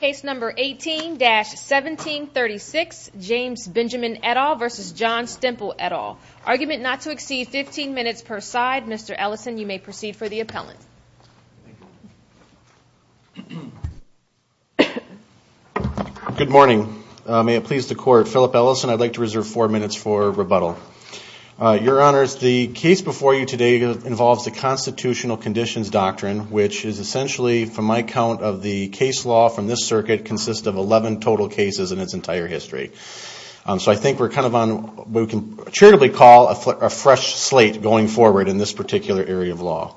Case number 18-1736, James Benjamin et al. v. John Stemple et al. Argument not to exceed 15 minutes per side. Mr. Ellison, you may proceed for the appellant. Good morning. May it please the Court, Philip Ellison, I'd like to reserve four minutes for rebuttal. Your Honors, the case before you today involves the Constitutional Conditions Doctrine, which is essentially, from my count of the case law from this circuit, consists of 11 total cases in its entire history. So I think we're kind of on what we can charitably call a fresh slate going forward in this particular area of law.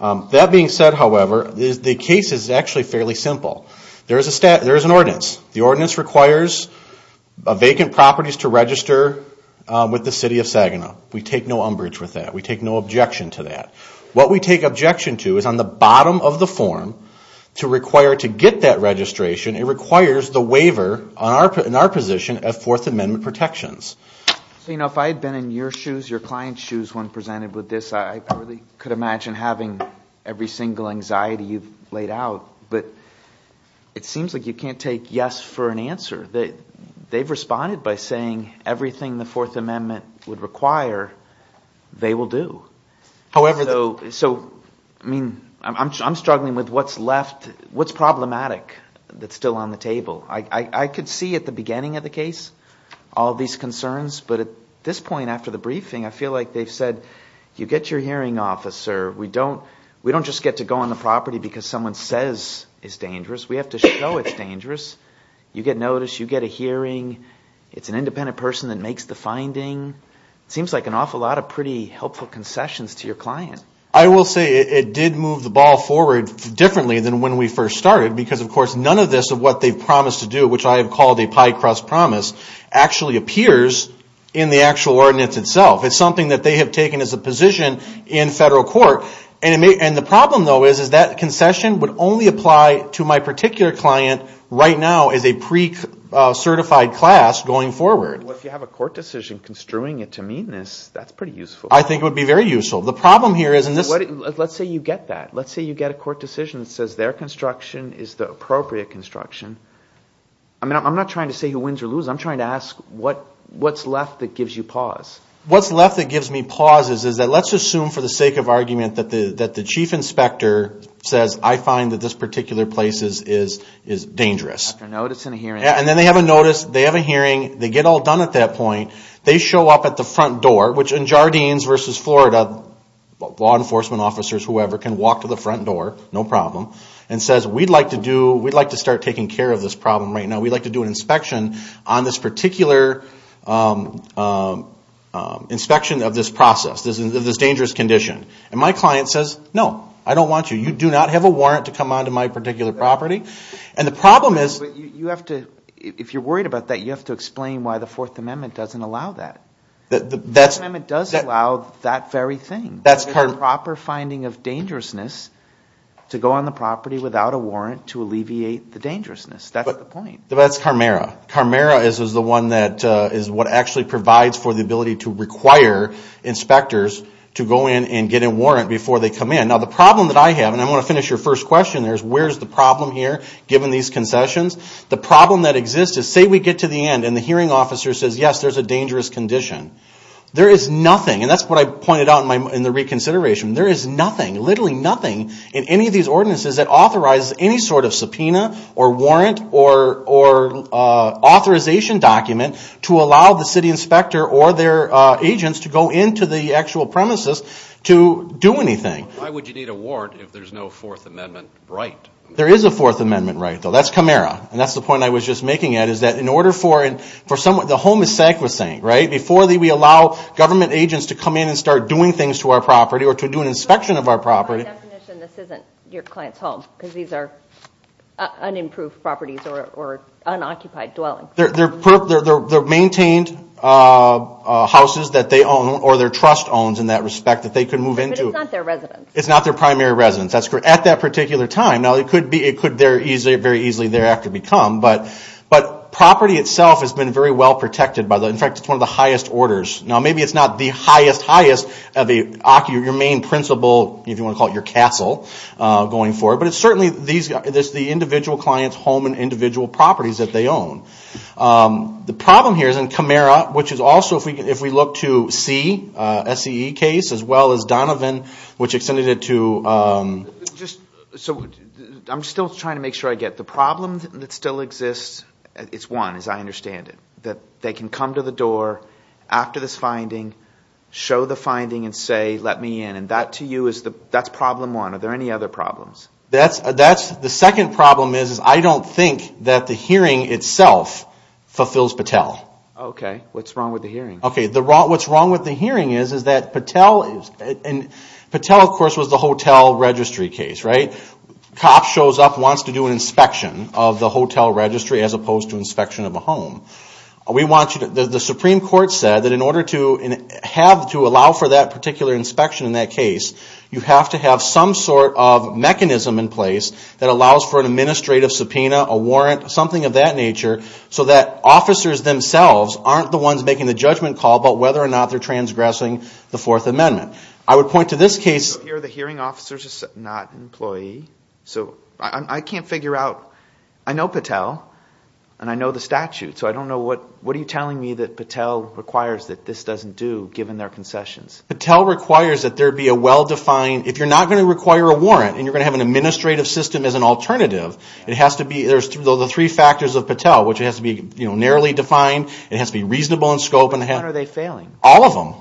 That being said, however, the case is actually fairly simple. There is an ordinance. The ordinance requires vacant properties to register with the City of Saginaw. We take no umbrage with that. We take no objection to that. What we take objection to is on the bottom of the form, to require to get that registration, it requires the waiver in our position of Fourth Amendment protections. So, you know, if I had been in your shoes, your client's shoes, when presented with this, I really could imagine having every single anxiety you've laid out. But it seems like you can't take yes for an answer. They've responded by saying everything the Fourth Amendment would require, they will do. However, though, so, I mean, I'm struggling with what's left, what's problematic that's still on the table. I could see at the beginning of the case all these concerns, but at this point after the briefing, I feel like they've said, you get your hearing officer. We don't just get to go on the property because someone says it's dangerous. We have to show it's dangerous. You get notice. You get a hearing. It's an independent person that makes the finding. It seems like an awful lot of pretty helpful concessions to your client. I will say it did move the ball forward differently than when we first started because, of course, none of this of what they've promised to do, which I have called a pie crust promise, actually appears in the actual ordinance itself. It's something that they have taken as a position in federal court. And the problem, though, is that concession would only apply to my particular client right now as a pre-certified class going forward. Well, if you have a court decision construing it to mean this, that's pretty useful. I think it would be very useful. The problem here is... Let's say you get that. Let's say you get a court decision that says their construction is the appropriate construction. I'm not trying to say who wins or loses. I'm trying to ask what's left that gives you pause. What's left that gives me pause is that let's assume for the sake of argument that the chief inspector says, I find that this particular place is dangerous. After notice and a hearing. And then they have a notice. They have a hearing. They get all done at that point. They show up at the front door, which in Jardines versus Florida, law enforcement officers, whoever, can walk to the front door, no problem, and says, we'd like to start taking care of this problem right now. We'd like to do an inspection on this particular inspection of this process, this dangerous condition. And my client says, no, I don't want you. You do not have a warrant to come onto my particular property. If you're worried about that, you have to explain why the Fourth Amendment doesn't allow that. The Fourth Amendment does allow that very thing. The proper finding of dangerousness to go on the property without a warrant to alleviate the dangerousness. That's the point. That's CARMARA. CARMARA is what actually provides for the ability to require inspectors to go in and get a warrant before they come in. Now, the problem that I have, and I want to finish your first question there, is where's the problem here, given these concessions? The problem that exists is, say we get to the end and the hearing officer says, yes, there's a dangerous condition. There is nothing, and that's what I pointed out in the reconsideration. There is nothing, literally nothing, in any of these ordinances that authorizes any sort of subpoena or warrant or authorization document to allow the city inspector or their agents to go into the actual premises to do anything. Why would you need a warrant if there's no Fourth Amendment right? There is a Fourth Amendment right, though. That's CARMARA. And that's the point I was just making. The home is sacrosanct, right? Before we allow government agents to come in and start doing things to our property or to do an inspection of our property. By definition, this isn't your client's home because these are unimproved properties or unoccupied dwellings. They're maintained houses that they own or their trust owns in that respect that they can move into. But it's not their residence. It's not their primary residence at that particular time. Now, it could very easily thereafter become, but property itself has been very well protected. In fact, it's one of the highest orders. Now, maybe it's not the highest, highest of your main principle, if you want to call it your castle, going forward. But it's certainly the individual client's home and individual properties that they own. The problem here is in CAMARA, which is also, if we look to C, SCE case, as well as Donovan, which extended it to... So, I'm still trying to make sure I get the problem that still exists. It's one, as I understand it. That they can come to the door after this finding, show the finding, and say, let me in. And that, to you, that's problem one. Are there any other problems? The second problem is I don't think that the hearing itself fulfills Patel. Okay. What's wrong with the hearing? Okay. What's wrong with the hearing is that Patel is... Patel, of course, was the hotel registry case, right? Cop shows up, wants to do an inspection of the hotel registry as opposed to inspection of a home. We want you to... The Supreme Court said that in order to have, to allow for that particular inspection in that case, you have to have some sort of mechanism in place that allows for an administrative subpoena, a warrant, something of that nature, so that officers themselves aren't the ones making the judgment call about whether or not they're transgressing the Fourth Amendment. I would point to this case... Here, the hearing officer is not an employee. So, I can't figure out... I know Patel, and I know the statute, so I don't know what... What are you telling me that Patel requires that this doesn't do, given their concessions? Patel requires that there be a well-defined... If you're not going to require a warrant, and you're going to have an administrative system as an alternative, it has to be... There's the three factors of Patel, which has to be narrowly defined, it has to be reasonable in scope... When are they failing? All of them.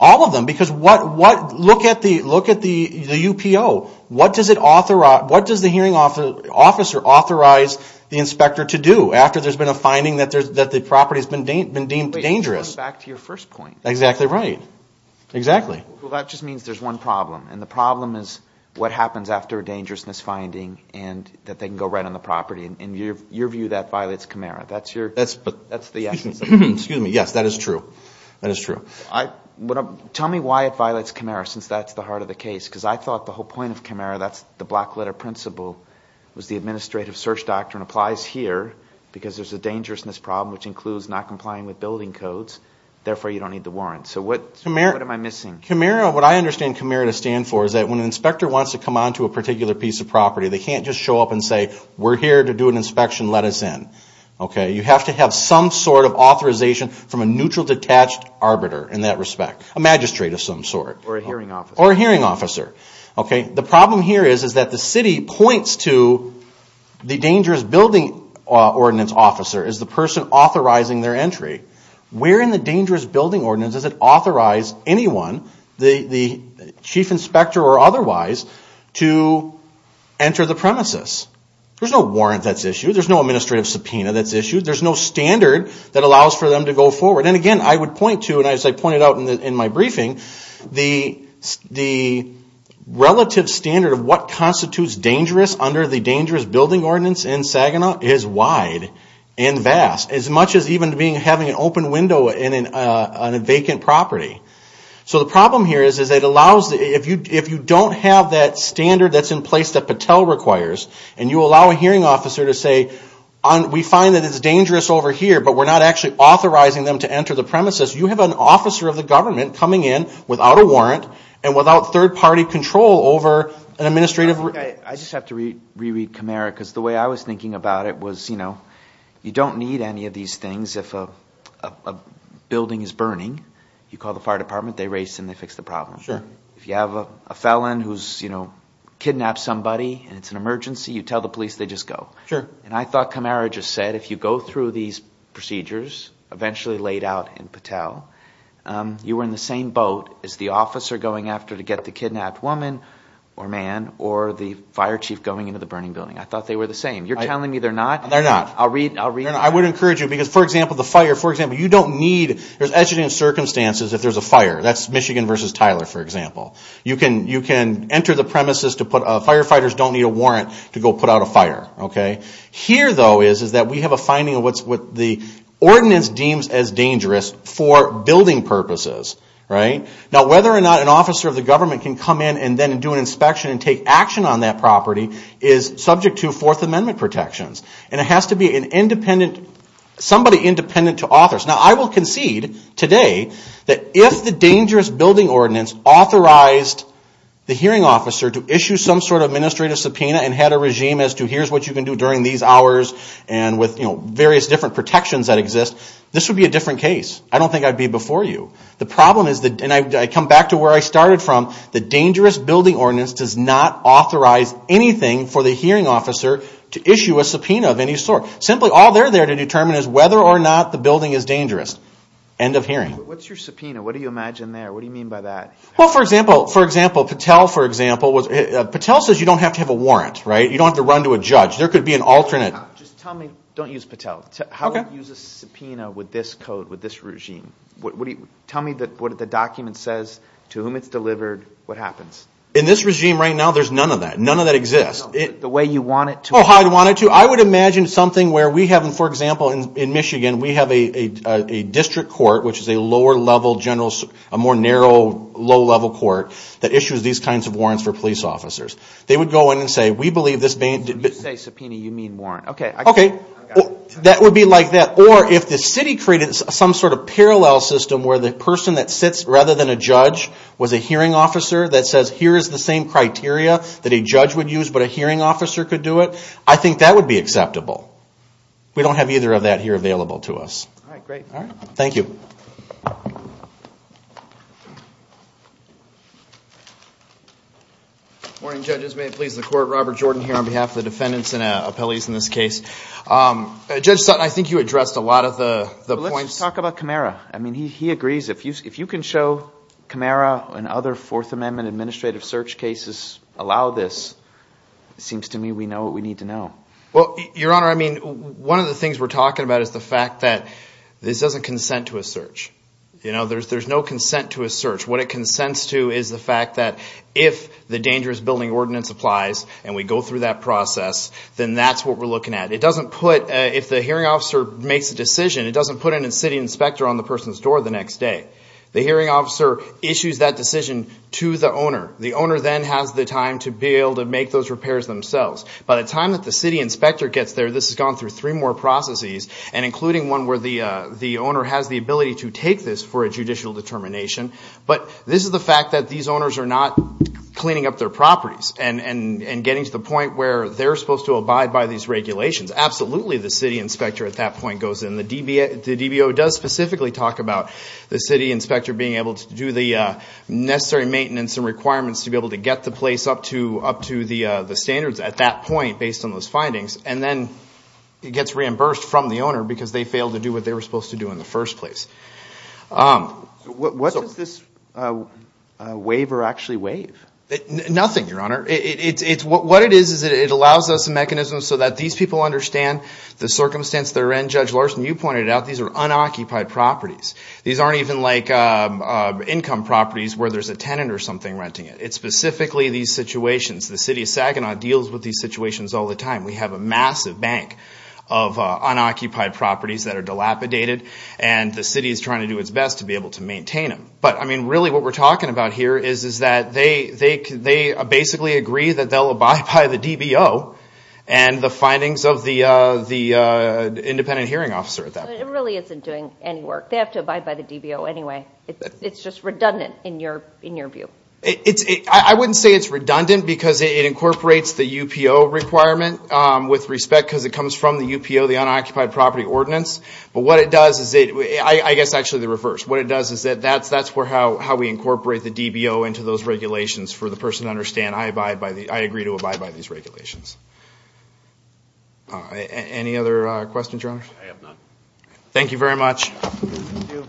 All of them. Because what... Look at the... Look at the... The UPO. What does it authorize... What does the hearing officer authorize the inspector to do after there's been a finding that the property's been deemed dangerous? Wait, you're coming back to your first point. Exactly right. Exactly. Well, that just means there's one problem, and the problem is what happens after a dangerousness finding, and that they can go right on the property. In your view, that violates Camara. That's your... That's... That's the essence of it. Excuse me. Yes, that is true. That is true. Tell me why it violates Camara, since that's the heart of the case, because I thought the whole point of Camara, that's the black letter principle, was the administrative search doctrine applies here, because there's a dangerousness problem, which includes not complying with building codes, therefore you don't need the warrant. So what am I missing? Camara, what I understand Camara to stand for is that when an inspector wants to come onto a particular piece of property, they can't just show up and say, we're here to do an inspection, let us in. You have to have some sort of authorization from a neutral detached arbiter in that respect, a magistrate of some sort. Or a hearing officer. Or a hearing officer. The problem here is that the city points to the dangerous building ordinance officer as the person authorizing their entry. Where in the dangerous building ordinance does it authorize anyone, the chief inspector or otherwise, to enter the premises? There's no warrant that's issued. There's no administrative subpoena that's issued. There's no standard that allows for them to go forward. And again, I would point to, and as I pointed out in my briefing, the relative standard of what constitutes dangerous under the dangerous building ordinance in Saginaw is wide and vast. As much as even having an open window on a vacant property. So the problem here is that it allows, if you don't have that standard that's in place that Patel requires, and you allow a hearing officer to say, we find that it's dangerous over here, but we're not actually authorizing them to enter the premises, you have an officer of the government coming in without a warrant and without third party control over an administrative. I just have to reread Camara because the way I was thinking about it was, you know, you don't need any of these things. If a building is burning, you call the fire department, they race and they fix the problem. If you have a felon who's, you know, kidnapped somebody and it's an emergency, you tell the police, they just go. And I thought Camara just said, if you go through these procedures, eventually laid out in Patel, you were in the same boat as the officer going after to get the kidnapped woman or man, or the fire chief going into the burning building. I thought they were the same. You're telling me they're not? They're not. I'll read. I would encourage you because, for example, the fire, for example, you don't need, there's exigent circumstances if there's a fire. That's Michigan versus Tyler, for example. You can enter the premises to put, firefighters don't need a warrant to go put out a fire, okay? Here, though, is that we have a finding of what the ordinance deems as dangerous for building purposes, right? Now, whether or not an officer of the government can come in and then do an inspection and take action on that property is subject to Fourth Amendment protections. And it has to be an independent, somebody independent to authors. Now, I will concede today that if the dangerous building ordinance authorized the hearing officer to issue some sort of administrative subpoena and had a regime as to here's what you can do during these hours and with various different protections that exist, this would be a different case. I don't think I'd be before you. The problem is, and I come back to where I started from, the dangerous building ordinance does not authorize anything for the hearing officer to issue a subpoena of any sort. Simply all they're there to determine is whether or not the building is dangerous. End of hearing. What's your subpoena? What do you imagine there? What do you mean by that? Well, for example, Patel, for example, Patel says you don't have to have a warrant, right? You don't have to run to a judge. There could be an alternate. Just tell me, don't use Patel. How would you use a subpoena with this code, with this regime? Tell me what the document says, to whom it's delivered, what happens? In this regime right now, there's none of that. None of that exists. The way you want it to? Oh, how I'd want it to? I would imagine something where we have, for example, in Michigan, we have a district court, which is a lower-level general, a more narrow, low-level court that issues these kinds of warrants for police officers. They would go in and say, we believe this— When you say subpoena, you mean warrant. Okay. Okay. That would be like that. Or if the city created some sort of parallel system where the person that sits rather than a judge was a hearing officer that says here is the same criteria that a judge would use but a hearing officer could do it, I think that would be acceptable. We don't have either of that here available to us. All right, great. Thank you. Good morning, judges. May it please the Court, Robert Jordan here on behalf of the defendants and appellees in this case. Judge Sutton, I think you addressed a lot of the points. Let's talk about Camara. I mean, he agrees. If you can show Camara and other Fourth Amendment administrative search cases allow this, it seems to me we know what we need to know. Well, Your Honor, I mean, one of the things we're talking about is the fact that this doesn't consent to a search. You know, there's no consent to a search. What it consents to is the fact that if the dangerous building ordinance applies and we go through that process, then that's what we're looking at. It doesn't put—if the hearing officer makes a decision, it doesn't put a city inspector on the person's door the next day. The hearing officer issues that decision to the owner. The owner then has the time to be able to make those repairs themselves. By the time that the city inspector gets there, this has gone through three more processes, and including one where the owner has the ability to take this for a judicial determination. But this is the fact that these owners are not cleaning up their properties and getting to the point where they're supposed to abide by these regulations. Absolutely the city inspector at that point goes in. The DBO does specifically talk about the city inspector being able to do the necessary maintenance and requirements to be able to get the place up to the standards at that point based on those findings. And then it gets reimbursed from the owner because they failed to do what they were supposed to do in the first place. What does this waiver actually waive? Nothing, Your Honor. What it is is it allows us a mechanism so that these people understand the circumstance they're in. Judge Larson, you pointed out these are unoccupied properties. These aren't even like income properties where there's a tenant or something renting it. It's specifically these situations. The city of Saginaw deals with these situations all the time. We have a massive bank of unoccupied properties that are dilapidated, and the city is trying to do its best to be able to maintain them. But, I mean, really what we're talking about here is that they basically agree that they'll abide by the DBO and the findings of the independent hearing officer at that point. It really isn't doing any work. They have to abide by the DBO anyway. It's just redundant in your view. I wouldn't say it's redundant because it incorporates the UPO requirement with respect because it comes from the UPO, the Unoccupied Property Ordinance. But what it does is it – I guess actually the reverse. What it does is that's how we incorporate the DBO into those regulations for the person to understand, I agree to abide by these regulations. Any other questions, Your Honor? I have none. Thank you very much. Thank you.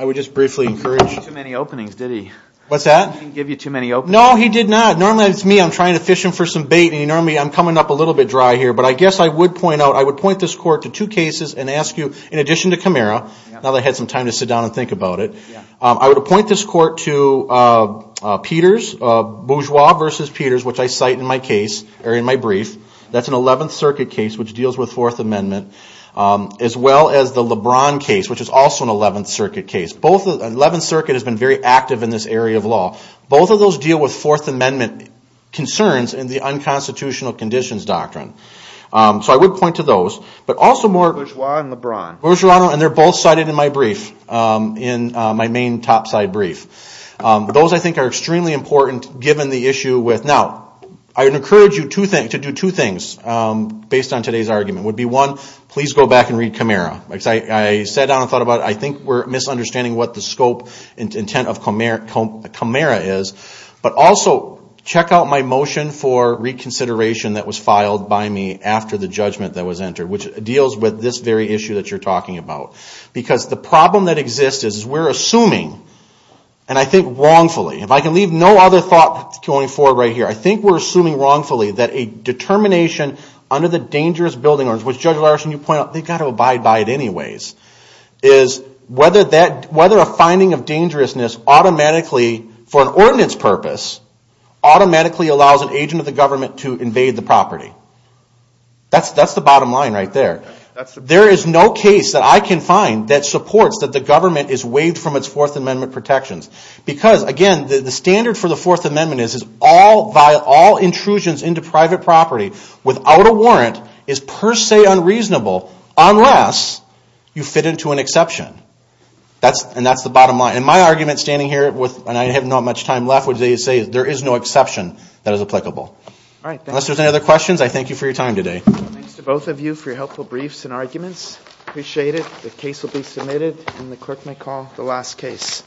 I would just briefly encourage – He didn't give you too many openings, did he? What's that? He didn't give you too many openings? No, he did not. Normally it's me, I'm trying to fish him for some bait, and normally I'm coming up a little bit dry here. But I guess I would point out, I would point this court to two cases and ask you, in addition to Kamara, now that I had some time to sit down and think about it, I would appoint this court to Peters, Bourgeois versus Peters, which I cite in my case, or in my brief. That's an 11th Circuit case, which deals with Fourth Amendment, as well as the LeBron case, which is also an 11th Circuit case. 11th Circuit has been very active in this area of law. Both of those deal with Fourth Amendment concerns and the Unconstitutional Conditions Doctrine. So I would point to those. Bourgeois and LeBron. Bourgeois and LeBron, and they're both cited in my brief, in my main topside brief. Those, I think, are extremely important, given the issue with... Now, I would encourage you to do two things, based on today's argument. It would be, one, please go back and read Kamara. I sat down and thought about it. I think we're misunderstanding what the scope and intent of Kamara is. But also, check out my motion for reconsideration that was filed by me after the judgment that was entered, which deals with this very issue that you're talking about. Because the problem that exists is we're assuming, and I think wrongfully, if I can leave no other thought going forward right here, I think we're assuming wrongfully that a determination under the Dangerous Building Ordinance, which Judge Larson, you point out, they've got to abide by it anyways, is whether a finding of dangerousness automatically, for an ordinance purpose, automatically allows an agent of the government to invade the property. That's the bottom line right there. There is no case that I can find that supports that the government is waived from its Fourth Amendment protections. Because, again, the standard for the Fourth Amendment is all intrusions into private property without a warrant is per se unreasonable, unless you fit into an exception. And that's the bottom line. And my argument standing here, and I have not much time left, would say there is no exception that is applicable. Unless there's any other questions, I thank you for your time today. Thanks to both of you for your helpful briefs and arguments. Appreciate it. The case will be submitted, and the clerk may call the last case.